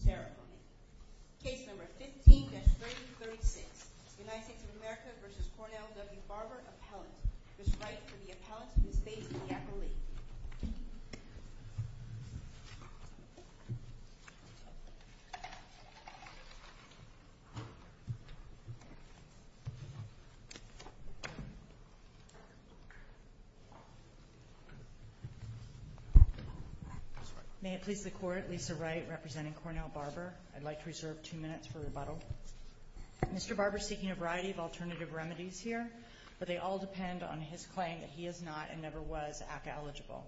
Appellate. Ms. Wright for the Appellate and Ms. Bates for the Appellate. Mr. Barber is seeking a variety of alternative remedies here, but they all depend on his claim that he is not, and never was, ACCA-eligible.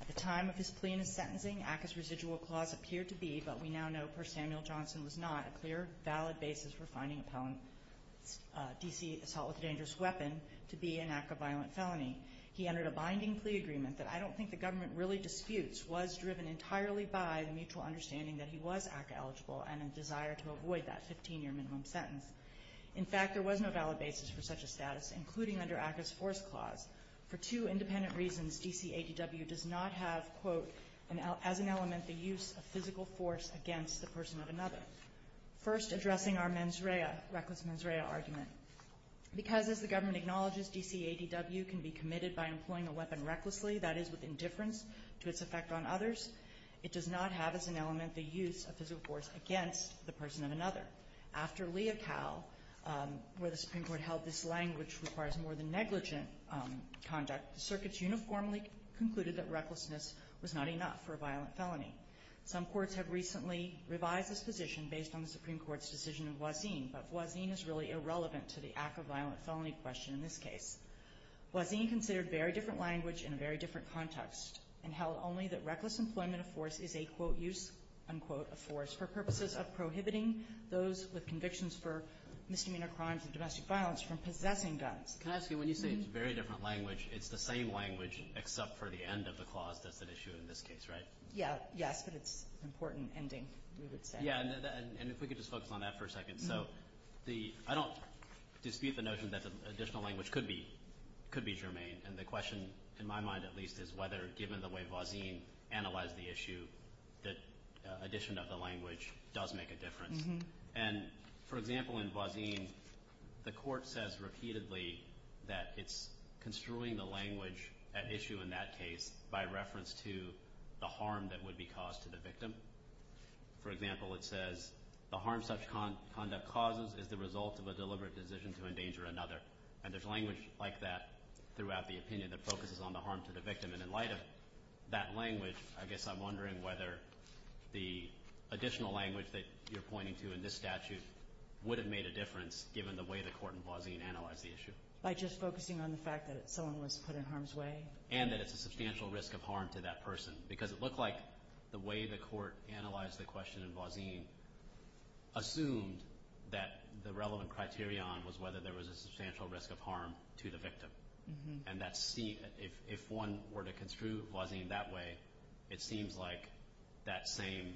At the time of his plea and his sentencing, ACCA's residual clause appeared to be, but we now know, per Samuel Johnson, was not, a clear, valid basis for finding appellant D.C. assault with a dangerous weapon to be an ACCA-violent felony. He entered a binding plea agreement that I don't think the government really disputes, was driven entirely by the mutual understanding that he was ACCA-eligible and a desire to avoid that 15-year minimum sentence. In fact, there was no valid basis for such a status, including under ACCA's force clause, for two independent reasons D.C. ADW does not have, quote, as an element the use of physical force against the person of another. First addressing our mens rea, reckless mens rea, argument. Because as the government acknowledges, D.C. ADW can be committed by employing a weapon recklessly, that is, with indifference to its effect on others, it does not have as an element the use of physical force against the person of another. After Lee et al., where the Supreme Court held this language requires more than negligent conduct, the circuits uniformly concluded that recklessness was not enough for a violent felony. Some courts have recently revised this position based on the Supreme Court's decision of Wazin, but Wazin is really irrelevant to the ACCA-violent felony question in this case. Wazin considered very different language in a very different context and held only that those with convictions for misdemeanor crimes and domestic violence from possessing guns. Can I ask you, when you say it's very different language, it's the same language except for the end of the clause that's at issue in this case, right? Yeah, yes, but it's an important ending, we would say. Yeah, and if we could just focus on that for a second. So I don't dispute the notion that the additional language could be germane, and the question in my mind at least is whether, given the way Wazin analyzed the issue, that addition of the language does make a difference. And for example, in Wazin, the court says repeatedly that it's construing the language at issue in that case by reference to the harm that would be caused to the victim. For example, it says, the harm such conduct causes is the result of a deliberate decision to endanger another. And there's language like that throughout the opinion that focuses on the harm to the victim. And in light of that language, I guess I'm wondering whether the additional language that you're pointing to in this statute would have made a difference given the way the court in Wazin analyzed the issue. By just focusing on the fact that someone was put in harm's way? And that it's a substantial risk of harm to that person. Because it looked like the way the court analyzed the question in Wazin assumed that the relevant And that's seen. If one were to construe Wazin that way, it seems like that same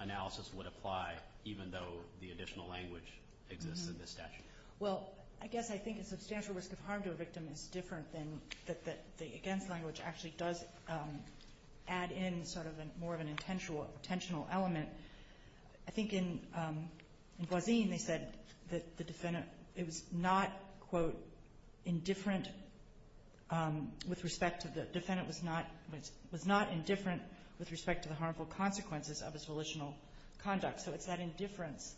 analysis would apply even though the additional language exists in this statute. Well, I guess I think a substantial risk of harm to a victim is different than that the against language actually does add in sort of more of an intentional element. I think in Wazin, they said that the defendant, it was not, quote, indifferent with respect to the defendant was not indifferent with respect to the harmful consequences of his volitional conduct. So it's that indifference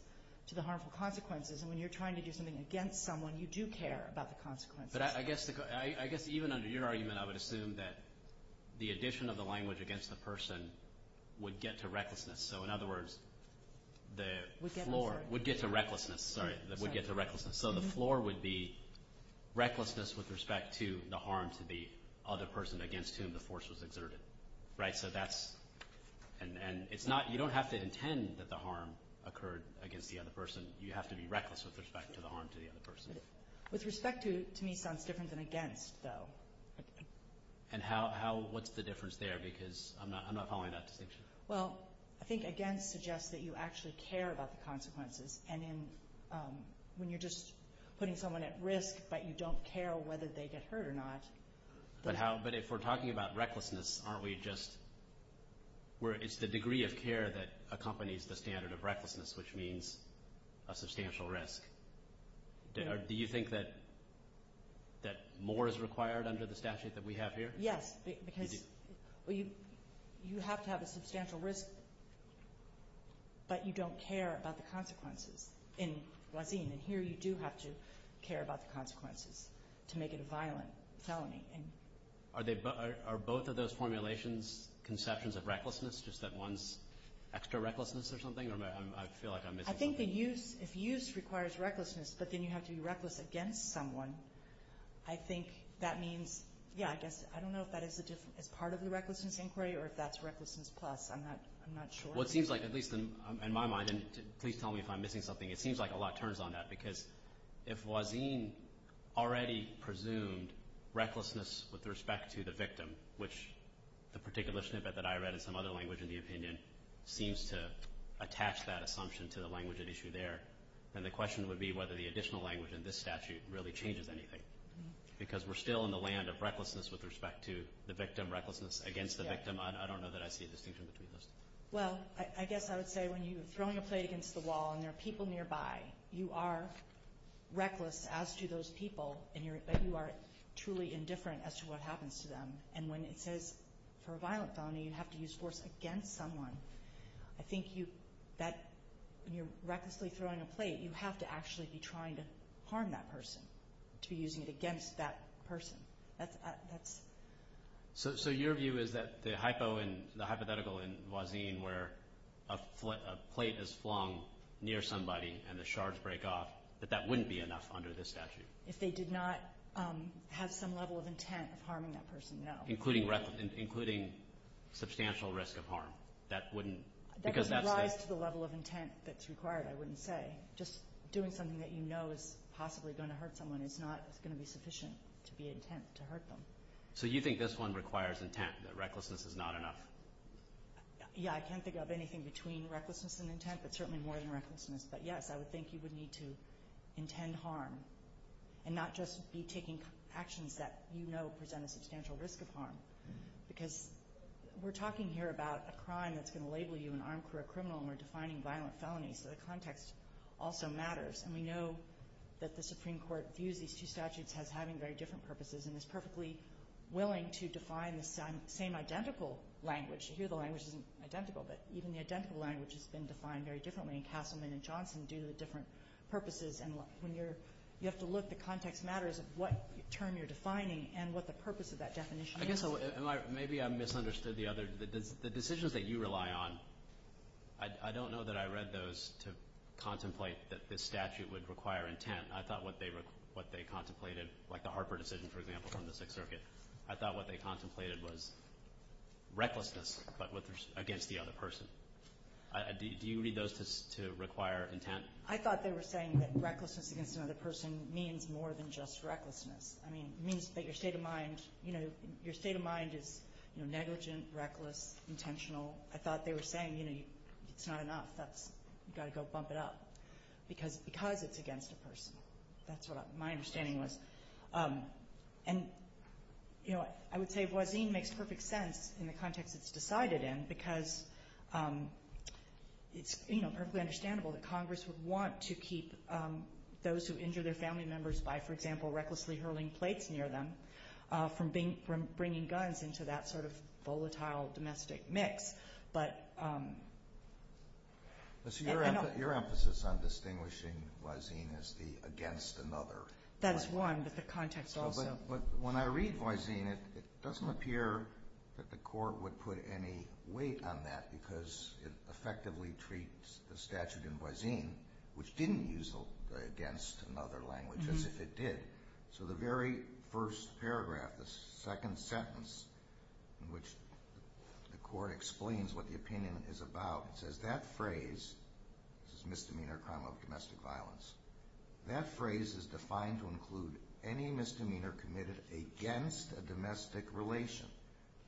to the harmful consequences. And when you're trying to do something against someone, you do care about the consequences. But I guess even under your argument, I would assume that the addition of the language against the person would get to recklessness. So in other words, the floor would get to recklessness. Sorry, that would get to recklessness. So the floor would be recklessness with respect to the harm to the other person against whom the force was exerted. Right. So that's and it's not you don't have to intend that the harm occurred against the other person. You have to be reckless with respect to the harm to the other person. With respect to me sounds different than against though. And how what's the difference there? Because I'm not following that distinction. Well, I think against suggests that you actually care about the consequences and in when you're just putting someone at risk, but you don't care whether they get hurt or not. But how? But if we're talking about recklessness, aren't we just where it's the degree of care that accompanies the standard of recklessness, which means a substantial risk. Do you think that that more is required under the statute that we have here? Yes. Because you have to have a substantial risk. But you don't care about the consequences in Wasim. And here you do have to care about the consequences to make it a violent felony. Are they are both of those formulations conceptions of recklessness, just that one's extra recklessness or something? I feel like I'm missing. I think that use if use requires recklessness, but then you have to be reckless against someone. I think that means, yeah, I guess I don't know if that is part of the recklessness inquiry or if that's recklessness plus. I'm not sure. Well, it seems like, at least in my mind, and please tell me if I'm missing something, it seems like a lot turns on that because if Wasim already presumed recklessness with respect to the victim, which the particular snippet that I read in some other language in the opinion seems to attach that assumption to the language at issue there, then the question would be whether the additional language in this statute really changes anything. Because we're still in the land of recklessness with respect to the victim, recklessness against the victim. I don't know that I see a distinction between those. Well, I guess I would say when you're throwing a plate against the wall and there are people nearby, you are reckless as to those people, but you are truly indifferent as to what happens to them. And when it says for a violent felony, you have to use force against someone, I think that when you're recklessly throwing a plate, you have to actually be trying to harm that person, to be using it against that person. So your view is that the hypothetical in Wasim where a plate is flung near somebody and the shards break off, that that wouldn't be enough under this statute? If they did not have some level of intent of harming that person, no. Including substantial risk of harm. That wouldn't... That doesn't rise to the level of intent that's required, I wouldn't say. Just doing something that you know is possibly going to hurt someone is not going to be sufficient to be intent to hurt them. So you think this one requires intent, that recklessness is not enough? Yeah, I can't think of anything between recklessness and intent, but certainly more than recklessness. But yes, I would think you would need to intend harm and not just be taking actions that you know present a substantial risk of harm. Because we're talking here about a crime that's going to label you an armed criminal and we're defining violent felonies, so the context also matters. And we know that the Supreme Court views these two statutes as having very different purposes and is perfectly willing to define the same identical language. Here the language isn't identical, but even the identical language has been defined very differently in Castleman and Johnson due to the different purposes. And when you're... You have to look, the context matters of what term you're defining and what the purpose of that definition is. Maybe I misunderstood the other... The decisions that you rely on, I don't know that I read those to contemplate that this statute would require intent. I thought what they contemplated, like the Harper decision, for example, from the Sixth Circuit, I thought what they contemplated was recklessness, but against the other person. Do you read those to require intent? I thought they were saying that recklessness against another person means more than just recklessness. I mean, it means that your state of mind is negligent, reckless, intentional. I thought they were saying it's not enough, you've got to go bump it up because it's against a person. That's what my understanding was. And I would say voisine makes perfect sense in the context it's decided in because it's perfectly understandable that Congress would want to keep those who injure their family members by, for example, recklessly hurling plates near them from bringing guns into that sort of volatile domestic mix. But... So your emphasis on distinguishing voisine as the against another... That is one, but the context also... When I read voisine, it doesn't appear that the court would put any weight on that because it effectively treats the statute in voisine, which didn't use the against another language, as if it did. So the very first paragraph, the second sentence in which the court explains what the opinion is about, it says, that phrase, this is misdemeanor crime of domestic violence, that phrase is defined to include any misdemeanor committed against a domestic relation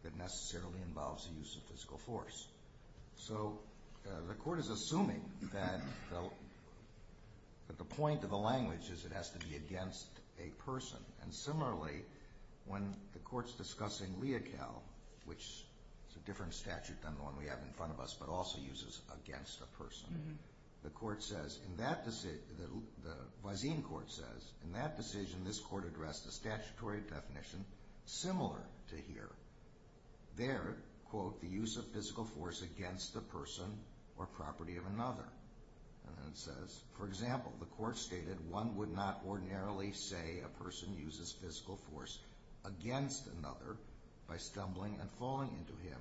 that necessarily involves the use of physical force. So the court is assuming that the point of the language is it has to be against a person. And similarly, when the court's discussing leocal, which is a different statute than the one we have in front of us, but also uses against a person, the court says, in that decision... The voisine court says, in that decision, this court addressed a statutory definition similar to here. There, quote, the use of physical force against a person or property of another. And then it says, for example, the court stated one would not ordinarily say a person uses physical force against another by stumbling and falling into him.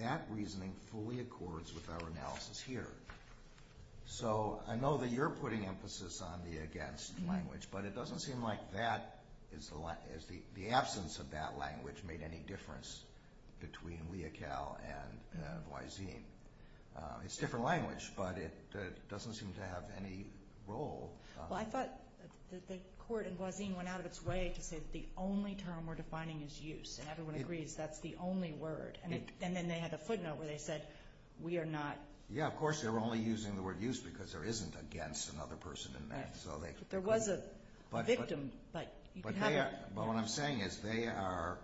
That reasoning fully accords with our analysis here. So I know that you're putting emphasis on the against language, but it doesn't seem like the absence of that language made any difference between leocal and voisine. It's a different language, but it doesn't seem to have any role. Well, I thought the court in voisine went out of its way to say that the only term we're defining is use, and everyone agrees that's the only word. And then they had a footnote where they said, we are not... Yeah, of course, they're only using the word use because there isn't against another person in there. But there was a victim, but you can have a... But what I'm saying is they are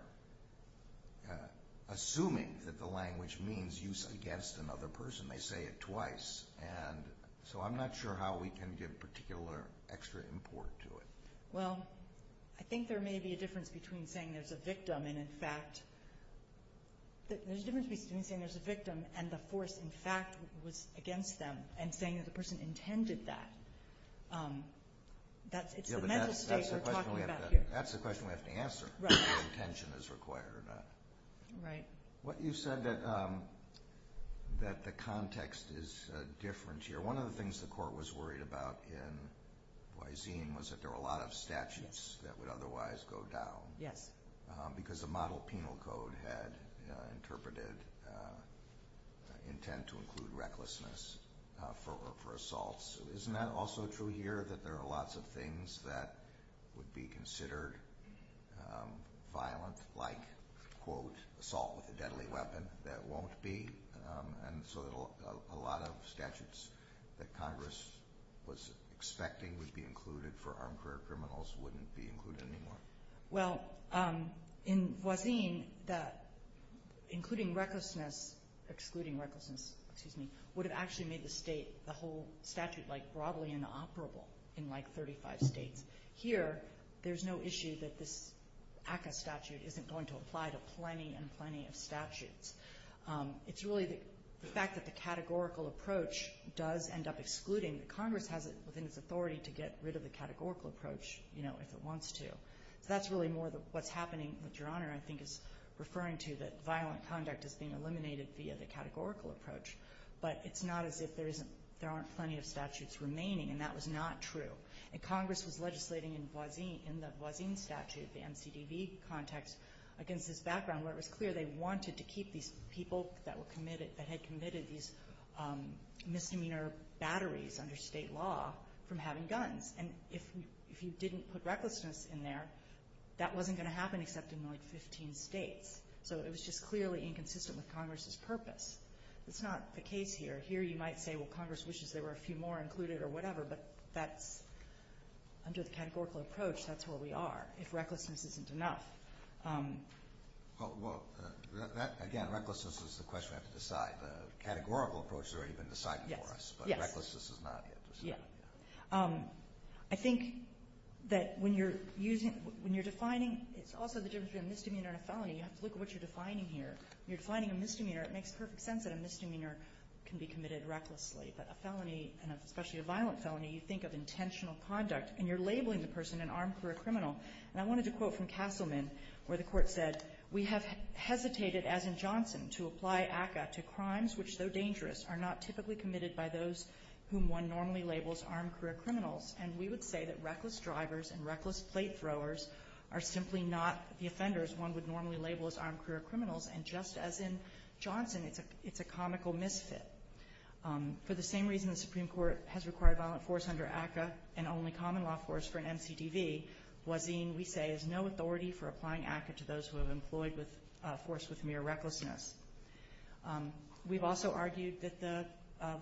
assuming that the language means use against another person. They say it twice. And so I'm not sure how we can give particular extra import to it. Well, I think there may be a difference between saying there's a victim and, in fact... There's a difference between saying there's a victim and the force, in fact, was against them and saying that the person intended that. It's the mental state we're talking about here. That's the question we have to answer, if intention is required or not. Right. You said that the context is different here. One of the things the court was worried about in voisine was that there were a lot of statutes that would otherwise go down. Yes. Because the model penal code had interpreted intent to include recklessness for assaults. Isn't that also true here that there are lots of things that would be considered violent like, quote, assault with a deadly weapon that won't be? And so a lot of statutes that Congress was expecting would be included for armed career criminals wouldn't be included anymore. Well, in voisine, including recklessness, excluding recklessness, excuse me, would have actually made the whole statute broadly inoperable in, like, 35 states. Here, there's no issue that this ACCA statute isn't going to apply to plenty and plenty of statutes. It's really the fact that the categorical approach does end up excluding. Congress has it within its authority to get rid of the categorical approach if it wants to. So that's really more what's happening with your Honor, I think, is referring to that violent conduct is being eliminated via the categorical approach. But it's not as if there aren't plenty of statutes remaining, and that was not true. And Congress was legislating in the voisine statute, the MCDB context, against this background where it was clear they wanted to keep these people that had committed these misdemeanor batteries under state law from having guns. And if you didn't put recklessness in there, that wasn't going to happen except in, like, 15 states. So it was just clearly inconsistent with Congress's purpose. It's not the case here. Here, you might say, well, Congress wishes there were a few more included or whatever, but that's, under the categorical approach, that's where we are, if recklessness isn't enough. Well, again, recklessness is the question we have to decide. The categorical approach has already been decided for us, but recklessness is not yet decided. I think that when you're using, when you're defining, it's also the difference between a misdemeanor and a felony. You have to look at what you're defining here. When you're defining a misdemeanor, it makes perfect sense that a misdemeanor can be committed recklessly. But a felony, and especially a violent felony, you think of intentional conduct, and you're labeling the person an armed career criminal. And I wanted to quote from Castleman, where the Court said, We have hesitated, as in Johnson, to apply ACCA to crimes which, though dangerous, are not typically committed by those whom one normally labels armed career criminals. And we would say that reckless drivers and reckless plate throwers are simply not the offenders one would normally label as armed career criminals. And just as in Johnson, it's a comical misfit. For the same reason the Supreme Court has required violent force under ACCA and only common law force for an MCDV, Wazin, we say, has no authority for applying ACCA to those who have employed force with mere recklessness. We've also argued that the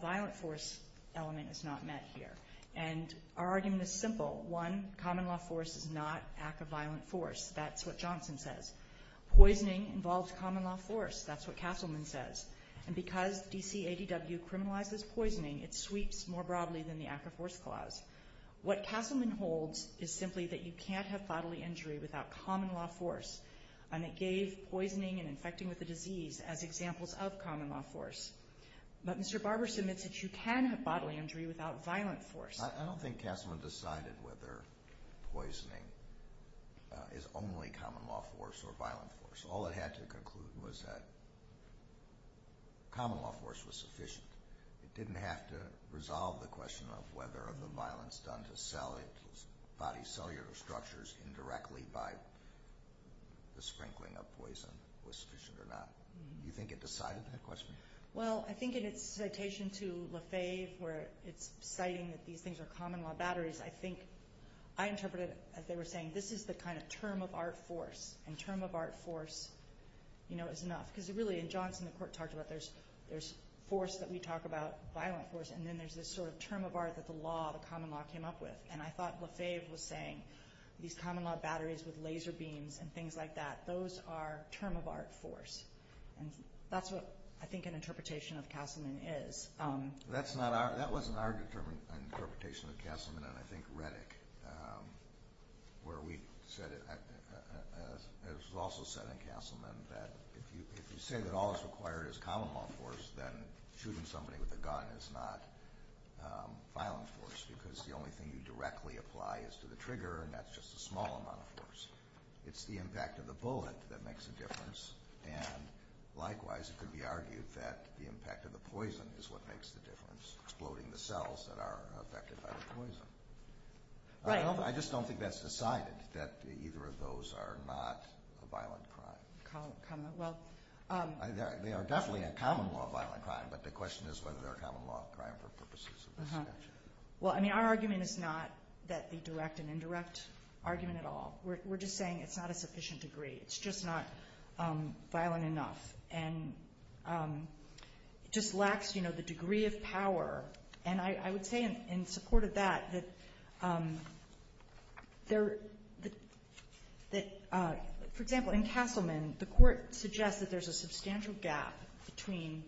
violent force element is not met here. And our argument is simple. One, common law force is not ACCA violent force. That's what Johnson says. Poisoning involves common law force. That's what Castleman says. And because DCADW criminalizes poisoning, it sweeps more broadly than the ACCA force clause. What Castleman holds is simply that you can't have bodily injury without common law force. And it gave poisoning and infecting with a disease as examples of common law force. But Mr. Barber submits that you can have bodily injury without violent force. I don't think Castleman decided whether poisoning is only common law force or violent force. All it had to conclude was that common law force was sufficient. It didn't have to resolve the question of whether the violence done to body cellular structures indirectly by the sprinkling of poison was sufficient or not. Do you think it decided that question? Well, I think in its citation to Lefebvre where it's citing that these things are common law batteries, I think I interpreted it as they were saying this is the kind of term of art force, and term of art force, you know, is enough. Because really in Johnson the court talked about there's force that we talk about, violent force, and then there's this sort of term of art that the law, the common law, came up with. And I thought Lefebvre was saying these common law batteries with laser beams and things like that, those are term of art force. And that's what I think an interpretation of Castleman is. That wasn't our interpretation of Castleman, and I think Reddick, where we said it, has also said in Castleman that if you say that all that's required is common law force, then shooting somebody with a gun is not violent force because the only thing you directly apply is to the trigger, and that's just a small amount of force. It's the impact of the bullet that makes a difference, and likewise it could be argued that the impact of the poison is what makes the difference, exploding the cells that are affected by the poison. I just don't think that's decided, that either of those are not a violent crime. They are definitely a common law violent crime, but the question is whether they're a common law crime for purposes of this statute. Well, I mean, our argument is not that the direct and indirect argument at all. We're just saying it's not a sufficient degree. It's just not violent enough, and it just lacks, you know, the degree of power. And I would say in support of that, that, for example, in Castleman, the Court suggests that there's a substantial gap between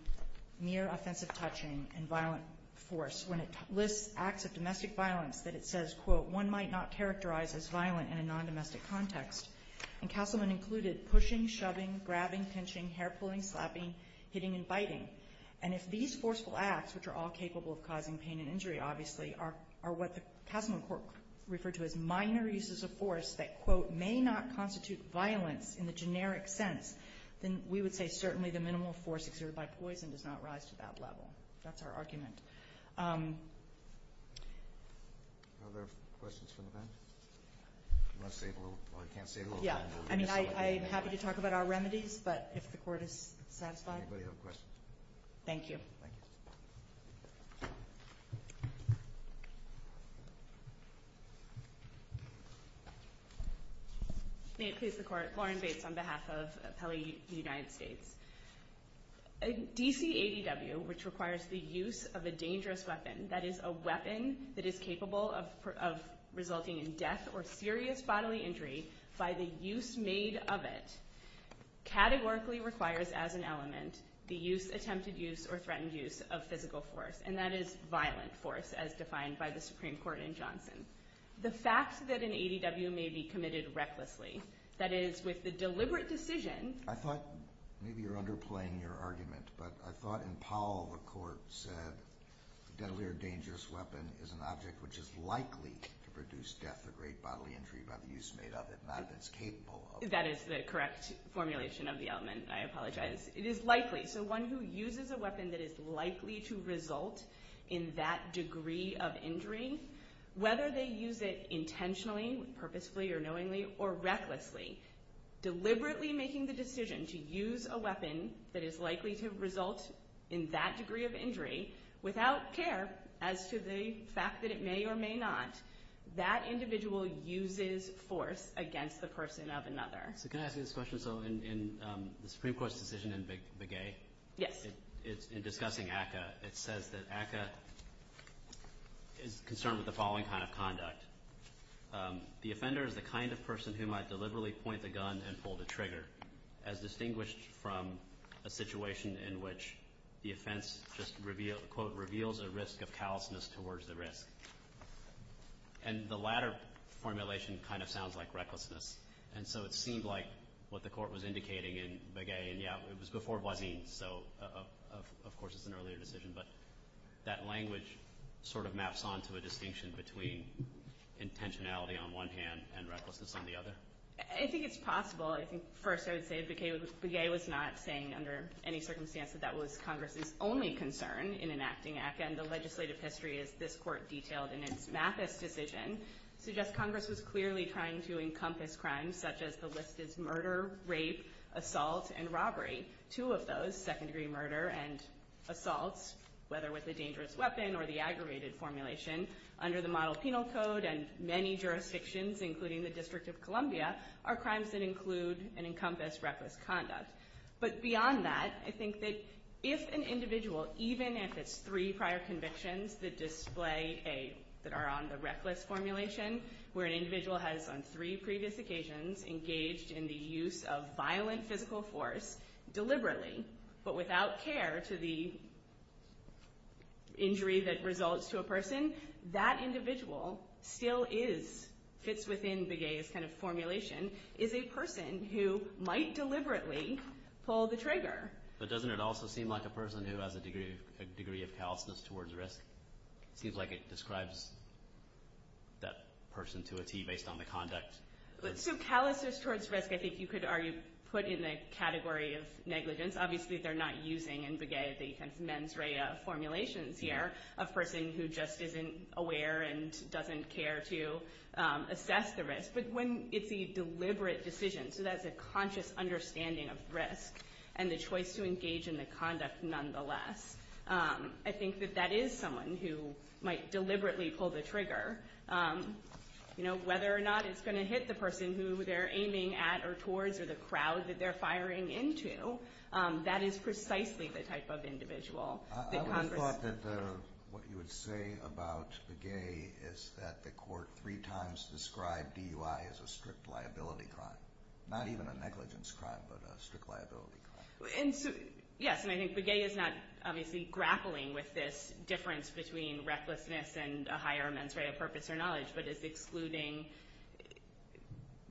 mere offensive touching and violent force when it lists acts of domestic violence that it says, quote, one might not characterize as violent in a non-domestic context. And Castleman included pushing, shoving, grabbing, pinching, hair-pulling, slapping, hitting, and biting. And if these forceful acts, which are all capable of causing pain and injury, obviously, are what the Castleman Court referred to as minor uses of force that, quote, may not constitute violence in the generic sense, then we would say certainly the minimal force exerted by poison does not rise to that level. That's our argument. Are there questions from the panel? I can't save a little time. Yeah. I mean, I'm happy to talk about our remedies, but if the Court is satisfied. Does anybody have a question? Thank you. May it please the Court. Lauren Bates on behalf of Appellee United States. A DCADW, which requires the use of a dangerous weapon, that is a weapon that is capable of resulting in death or serious bodily injury by the use made of it, categorically requires as an element the use, attempted use, or threatened use of physical force, and that is violent force as defined by the Supreme Court in Johnson. The fact that an ADW may be committed recklessly, that is with the deliberate decision. I thought maybe you're underplaying your argument, but I thought in Powell the Court said a deadly or dangerous weapon is an object which is likely to produce death or great bodily injury by the use made of it, not if it's capable of it. That is the correct formulation of the element. I apologize. It is likely. So one who uses a weapon that is likely to result in that degree of injury, whether they use it intentionally, purposefully or knowingly, or recklessly, deliberately making the decision to use a weapon that is likely to result in that degree of injury, without care as to the fact that it may or may not, that individual uses force against the person of another. So can I ask you this question? So in the Supreme Court's decision in Begay, in discussing ACCA, it says that ACCA is concerned with the following kind of conduct. The offender is the kind of person who might deliberately point the gun and pull the trigger, as distinguished from a situation in which the offense just, quote, reveals a risk of callousness towards the risk. And the latter formulation kind of sounds like recklessness. And so it seemed like what the Court was indicating in Begay, and yeah, it was before Voisin, so of course it's an earlier decision, but that language sort of maps on to a distinction between intentionality on one hand and recklessness on the other? I think it's possible. I think first I would say Begay was not saying under any circumstance that that was Congress's only concern in enacting ACCA, and the legislative history, as this Court detailed in its Mathis decision, suggests Congress was clearly trying to encompass crimes such as the list is murder, rape, assault, and robbery. Two of those, second-degree murder and assault, whether with a dangerous weapon or the aggravated formulation, under the Model Penal Code and many jurisdictions, including the District of Columbia, are crimes that include and encompass reckless conduct. But beyond that, I think that if an individual, even if it's three prior convictions that display a, that are on the reckless formulation, where an individual has on three previous occasions engaged in the use of violent physical force deliberately, but without care to the injury that results to a person, that individual still is, fits within Begay's kind of formulation, is a person who might deliberately pull the trigger. But doesn't it also seem like a person who has a degree of callousness towards risk? It seems like it describes that person to a T based on the conduct. So callousness towards risk, I think you could argue, put in the category of negligence. Obviously they're not using in Begay the kind of mens rea formulations here, a person who just isn't aware and doesn't care to assess the risk. But when it's a deliberate decision, so that's a conscious understanding of risk and the choice to engage in the conduct nonetheless, I think that that is someone who might deliberately pull the trigger. You know, whether or not it's going to hit the person who they're aiming at or towards or the crowd that they're firing into, that is precisely the type of individual that Congress. I would have thought that what you would say about Begay is that the court three times described DUI as a strict liability crime. Not even a negligence crime, but a strict liability crime. Yes, and I think Begay is not obviously grappling with this difference between recklessness and a higher mens rea purpose or knowledge, but is excluding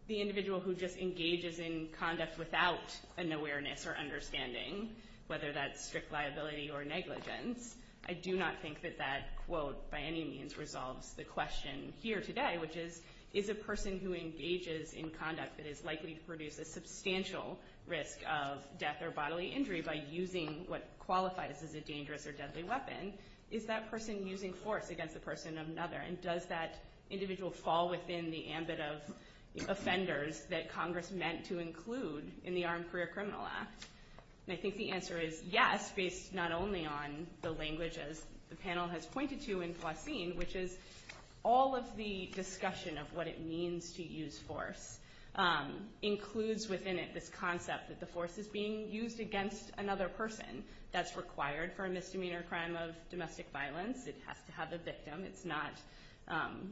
the individual who just engages in conduct without an awareness or understanding, whether that's strict liability or negligence. I do not think that that quote by any means resolves the question here today, which is, is a person who engages in conduct that is likely to produce a substantial risk of death or bodily injury by using what qualifies as a dangerous or deadly weapon, is that person using force against the person of another? And does that individual fall within the ambit of offenders that Congress meant to include in the Armed Career Criminal Act? I think the answer is yes, based not only on the language as the panel has pointed to in Faucine, which is all of the discussion of what it means to use force includes within it this concept that the force is being used against another person that's required for a misdemeanor crime of domestic violence. It has to have a victim. It's not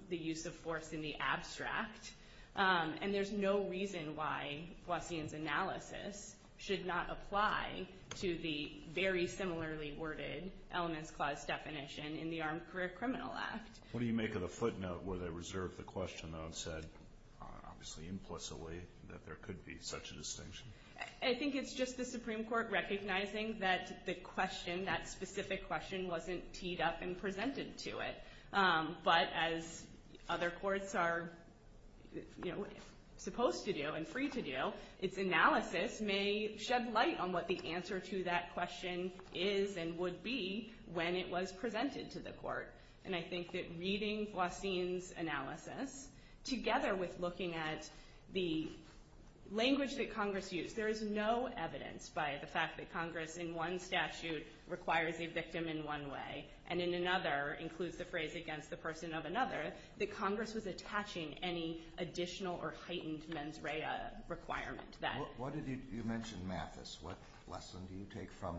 the use of force in the abstract. And there's no reason why Faucine's analysis should not apply to the very similarly worded elements clause definition in the Armed Career Criminal Act. What do you make of the footnote where they reserve the question though and said, obviously implicitly, that there could be such a distinction? I think it's just the Supreme Court recognizing that the question, that specific question wasn't teed up and presented to it. But as other courts are supposed to do and free to do, its analysis may shed light on what the answer to that question is and would be when it was presented to the court. And I think that reading Faucine's analysis, together with looking at the language that Congress used, there is no evidence by the fact that Congress in one statute requires a victim in one way, and in another includes the phrase against the person of another, that Congress was attaching any additional or heightened mens rea requirement to that. You mentioned Mathis. What lesson do you take from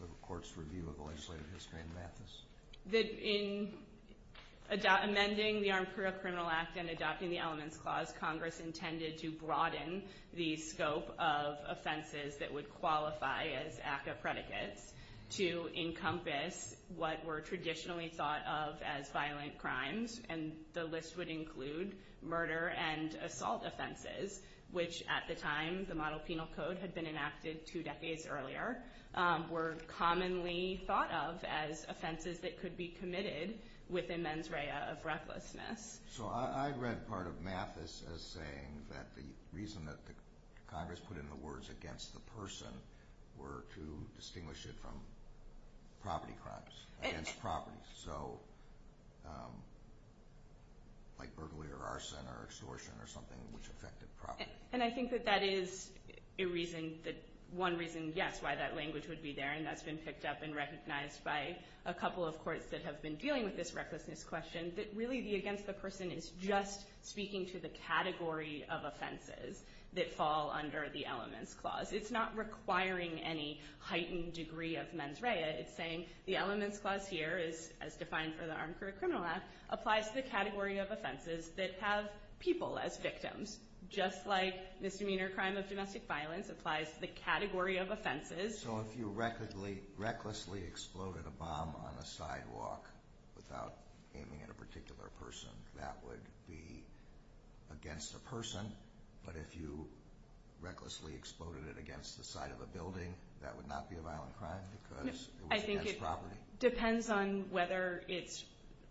the Court's review of legislative history in Mathis? In amending the Armed Career Criminal Act and adopting the elements clause, Congress intended to broaden the scope of offenses that would qualify as ACCA predicates to encompass what were traditionally thought of as violent crimes, and the list would include murder and assault offenses, which at the time the model penal code had been enacted two decades earlier, were commonly thought of as offenses that could be committed with a mens rea of recklessness. So I read part of Mathis as saying that the reason that Congress put in the words against the person were to distinguish it from property crimes, against property. So like burglary or arson or extortion or something which affected property. And I think that that is a reason, one reason, yes, why that language would be there, and that's been picked up and recognized by a couple of courts that have been dealing with this recklessness question, that really the against the person is just speaking to the category of offenses that fall under the elements clause. It's not requiring any heightened degree of mens rea. It's saying the elements clause here is, as defined for the Armed Career Criminal Act, applies to the category of offenses that have people as victims, just like misdemeanor crime of domestic violence applies to the category of offenses. So if you recklessly exploded a bomb on a sidewalk without aiming at a particular person, that would be against a person. But if you recklessly exploded it against the side of a building, that would not be a violent crime because it was against property. I think it depends on whether it's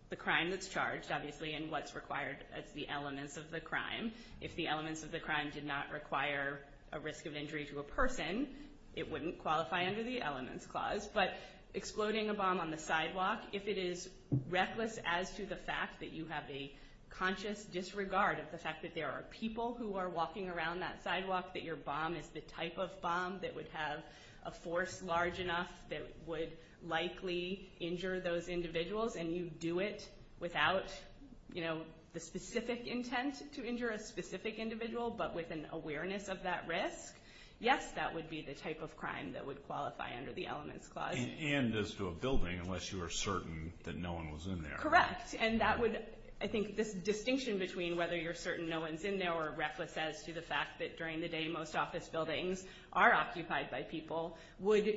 the crime that's charged, obviously, and what's required as the elements of the crime. If the elements of the crime did not require a risk of injury to a person, it wouldn't qualify under the elements clause. But exploding a bomb on the sidewalk, if it is reckless as to the fact that you have a conscious disregard of the fact that there are people who are walking around that sidewalk, that your bomb is the type of bomb that would have a force large enough that would likely injure those individuals, and you do it without the specific intent to injure a specific individual, but with an awareness of that risk, yes, that would be the type of crime that would qualify under the elements clause. And as to a building, unless you are certain that no one was in there. Correct. And that would, I think, this distinction between whether you're certain no one's in there or reckless as to the fact that during the day most office buildings are occupied by people would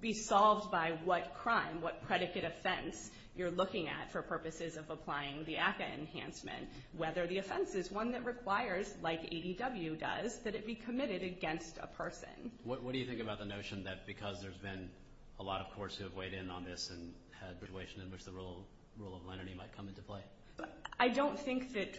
be solved by what crime, what predicate offense, you're looking at for purposes of applying the ACCA enhancement, whether the offense is one that requires, like ADW does, that it be committed against a person. What do you think about the notion that because there's been a lot of courts who have weighed in on this and had persuasion in which the rule of lenity might come into play? I don't think that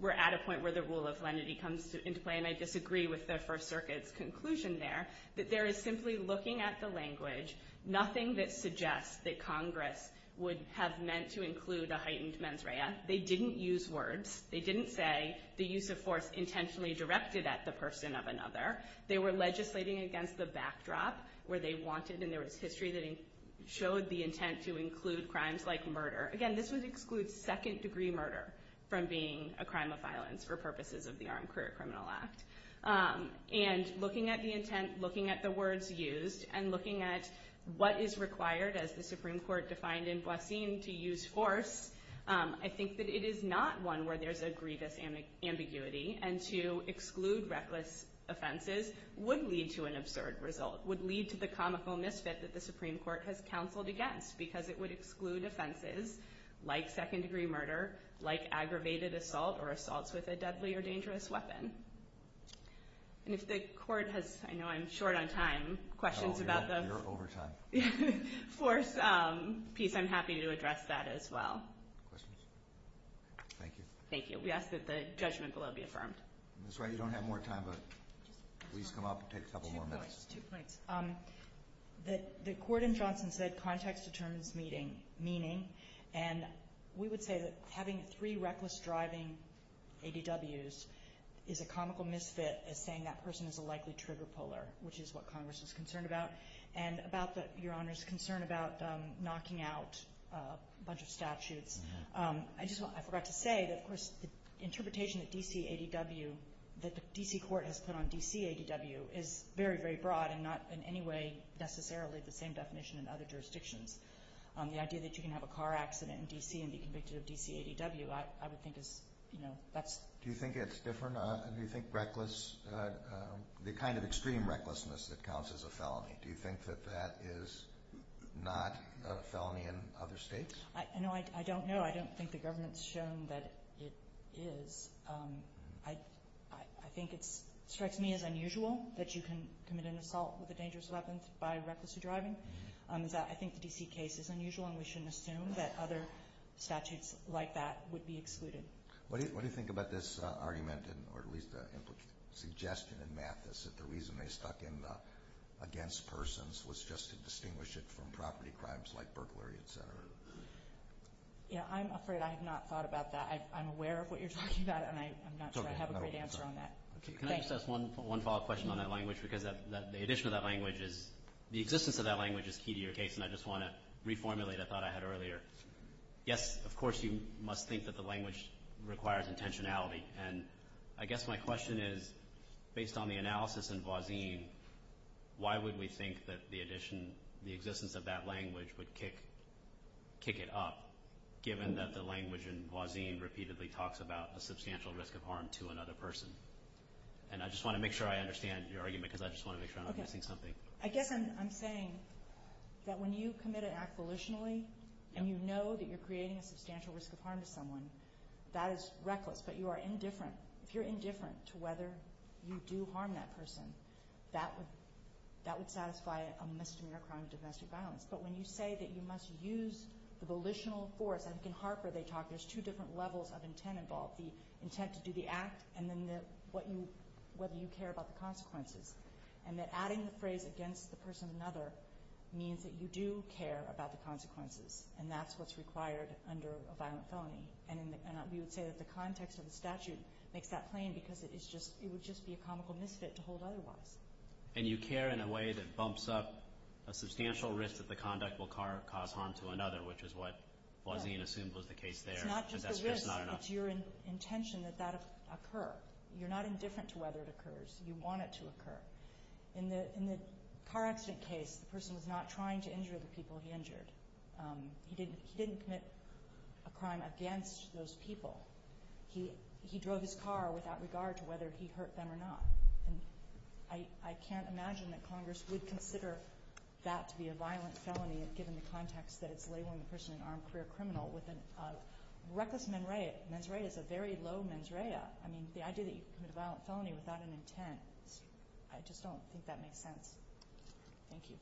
we're at a point where the rule of lenity comes into play, and I disagree with the First Circuit's conclusion there, that there is simply looking at the language, nothing that suggests that Congress would have meant to include a heightened mens rea. They didn't use words. They didn't say the use of force intentionally directed at the person of another. They were legislating against the backdrop where they wanted and there was history that showed the intent to include crimes like murder. Again, this would exclude second-degree murder from being a crime of violence for purposes of the Armed Career Criminal Act. And looking at the intent, looking at the words used, and looking at what is required as the Supreme Court defined in Boissin to use force, I think that it is not one where there's a grievous ambiguity, and to exclude reckless offenses would lead to an absurd result, would lead to the comical misfit that the Supreme Court has counseled against because it would exclude offenses like second-degree murder, like aggravated assault or assaults with a deadly or dangerous weapon. And if the Court has, I know I'm short on time, questions about the force piece, I'm happy to address that as well. Thank you. We ask that the judgment below be affirmed. Ms. Wright, you don't have more time, but please come up and take a couple more minutes. Two points. The Court in Johnson said context determines meaning, and we would say that having three reckless driving ADWs is a comical misfit as saying that person is a likely trigger puller, which is what Congress is concerned about, and about Your Honor's concern about knocking out a bunch of statutes. I forgot to say that, of course, the interpretation that the D.C. Court has put on D.C. ADW is very, very broad and not in any way necessarily the same definition in other jurisdictions. The idea that you can have a car accident in D.C. and be convicted of D.C. ADW I would think is, you know, that's... Do you think it's different? Do you think the kind of extreme recklessness that counts as a felony, do you think that that is not a felony in other states? No, I don't know. I don't think the government's shown that it is. I think it strikes me as unusual that you can commit an assault with a dangerous weapon by reckless driving. I think the D.C. case is unusual, and we shouldn't assume that other statutes like that would be excluded. What do you think about this argument, or at least the implication, suggestion in Mathis that the reason they stuck in the against persons was just to distinguish it from property crimes like burglary, et cetera? Yeah, I'm afraid I have not thought about that. I'm aware of what you're talking about, and I'm not sure I have a great answer on that. Can I just ask one follow-up question on that language? Because the addition of that language is the existence of that language is key to your case, and I just want to reformulate a thought I had earlier. Yes, of course you must think that the language requires intentionality, and I guess my question is, based on the analysis in Voisin, why would we think that the existence of that language would kick it up, given that the language in Voisin repeatedly talks about a substantial risk of harm to another person? And I just want to make sure I understand your argument, because I just want to make sure I'm not missing something. I guess I'm saying that when you commit an act volitionally and you know that you're creating a substantial risk of harm to someone, that is reckless, but if you're indifferent to whether you do harm that person, that would satisfy a misdemeanor crime of domestic violence. But when you say that you must use the volitional force, and in Harper they talk, there's two different levels of intent involved, the intent to do the act and then whether you care about the consequences, and that adding the phrase against the person of another means that you do care about the consequences, and that's what's required under a violent felony. And we would say that the context of the statute makes that plain because it would just be a comical misfit to hold otherwise. And you care in a way that bumps up a substantial risk that the conduct will cause harm to another, which is what Voisin assumed was the case there. It's not just the risk. It's your intention that that occur. You're not indifferent to whether it occurs. You want it to occur. In the car accident case, the person was not trying to injure the people he injured. He didn't commit a crime against those people. He drove his car without regard to whether he hurt them or not. And I can't imagine that Congress would consider that to be a violent felony given the context that it's labeling the person an armed career criminal with a reckless mens rea. Mens rea is a very low mens rea. I mean, the idea that you commit a violent felony without an intent, I just don't think that makes sense. Thank you.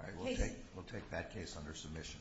All right, we'll take that case under submission.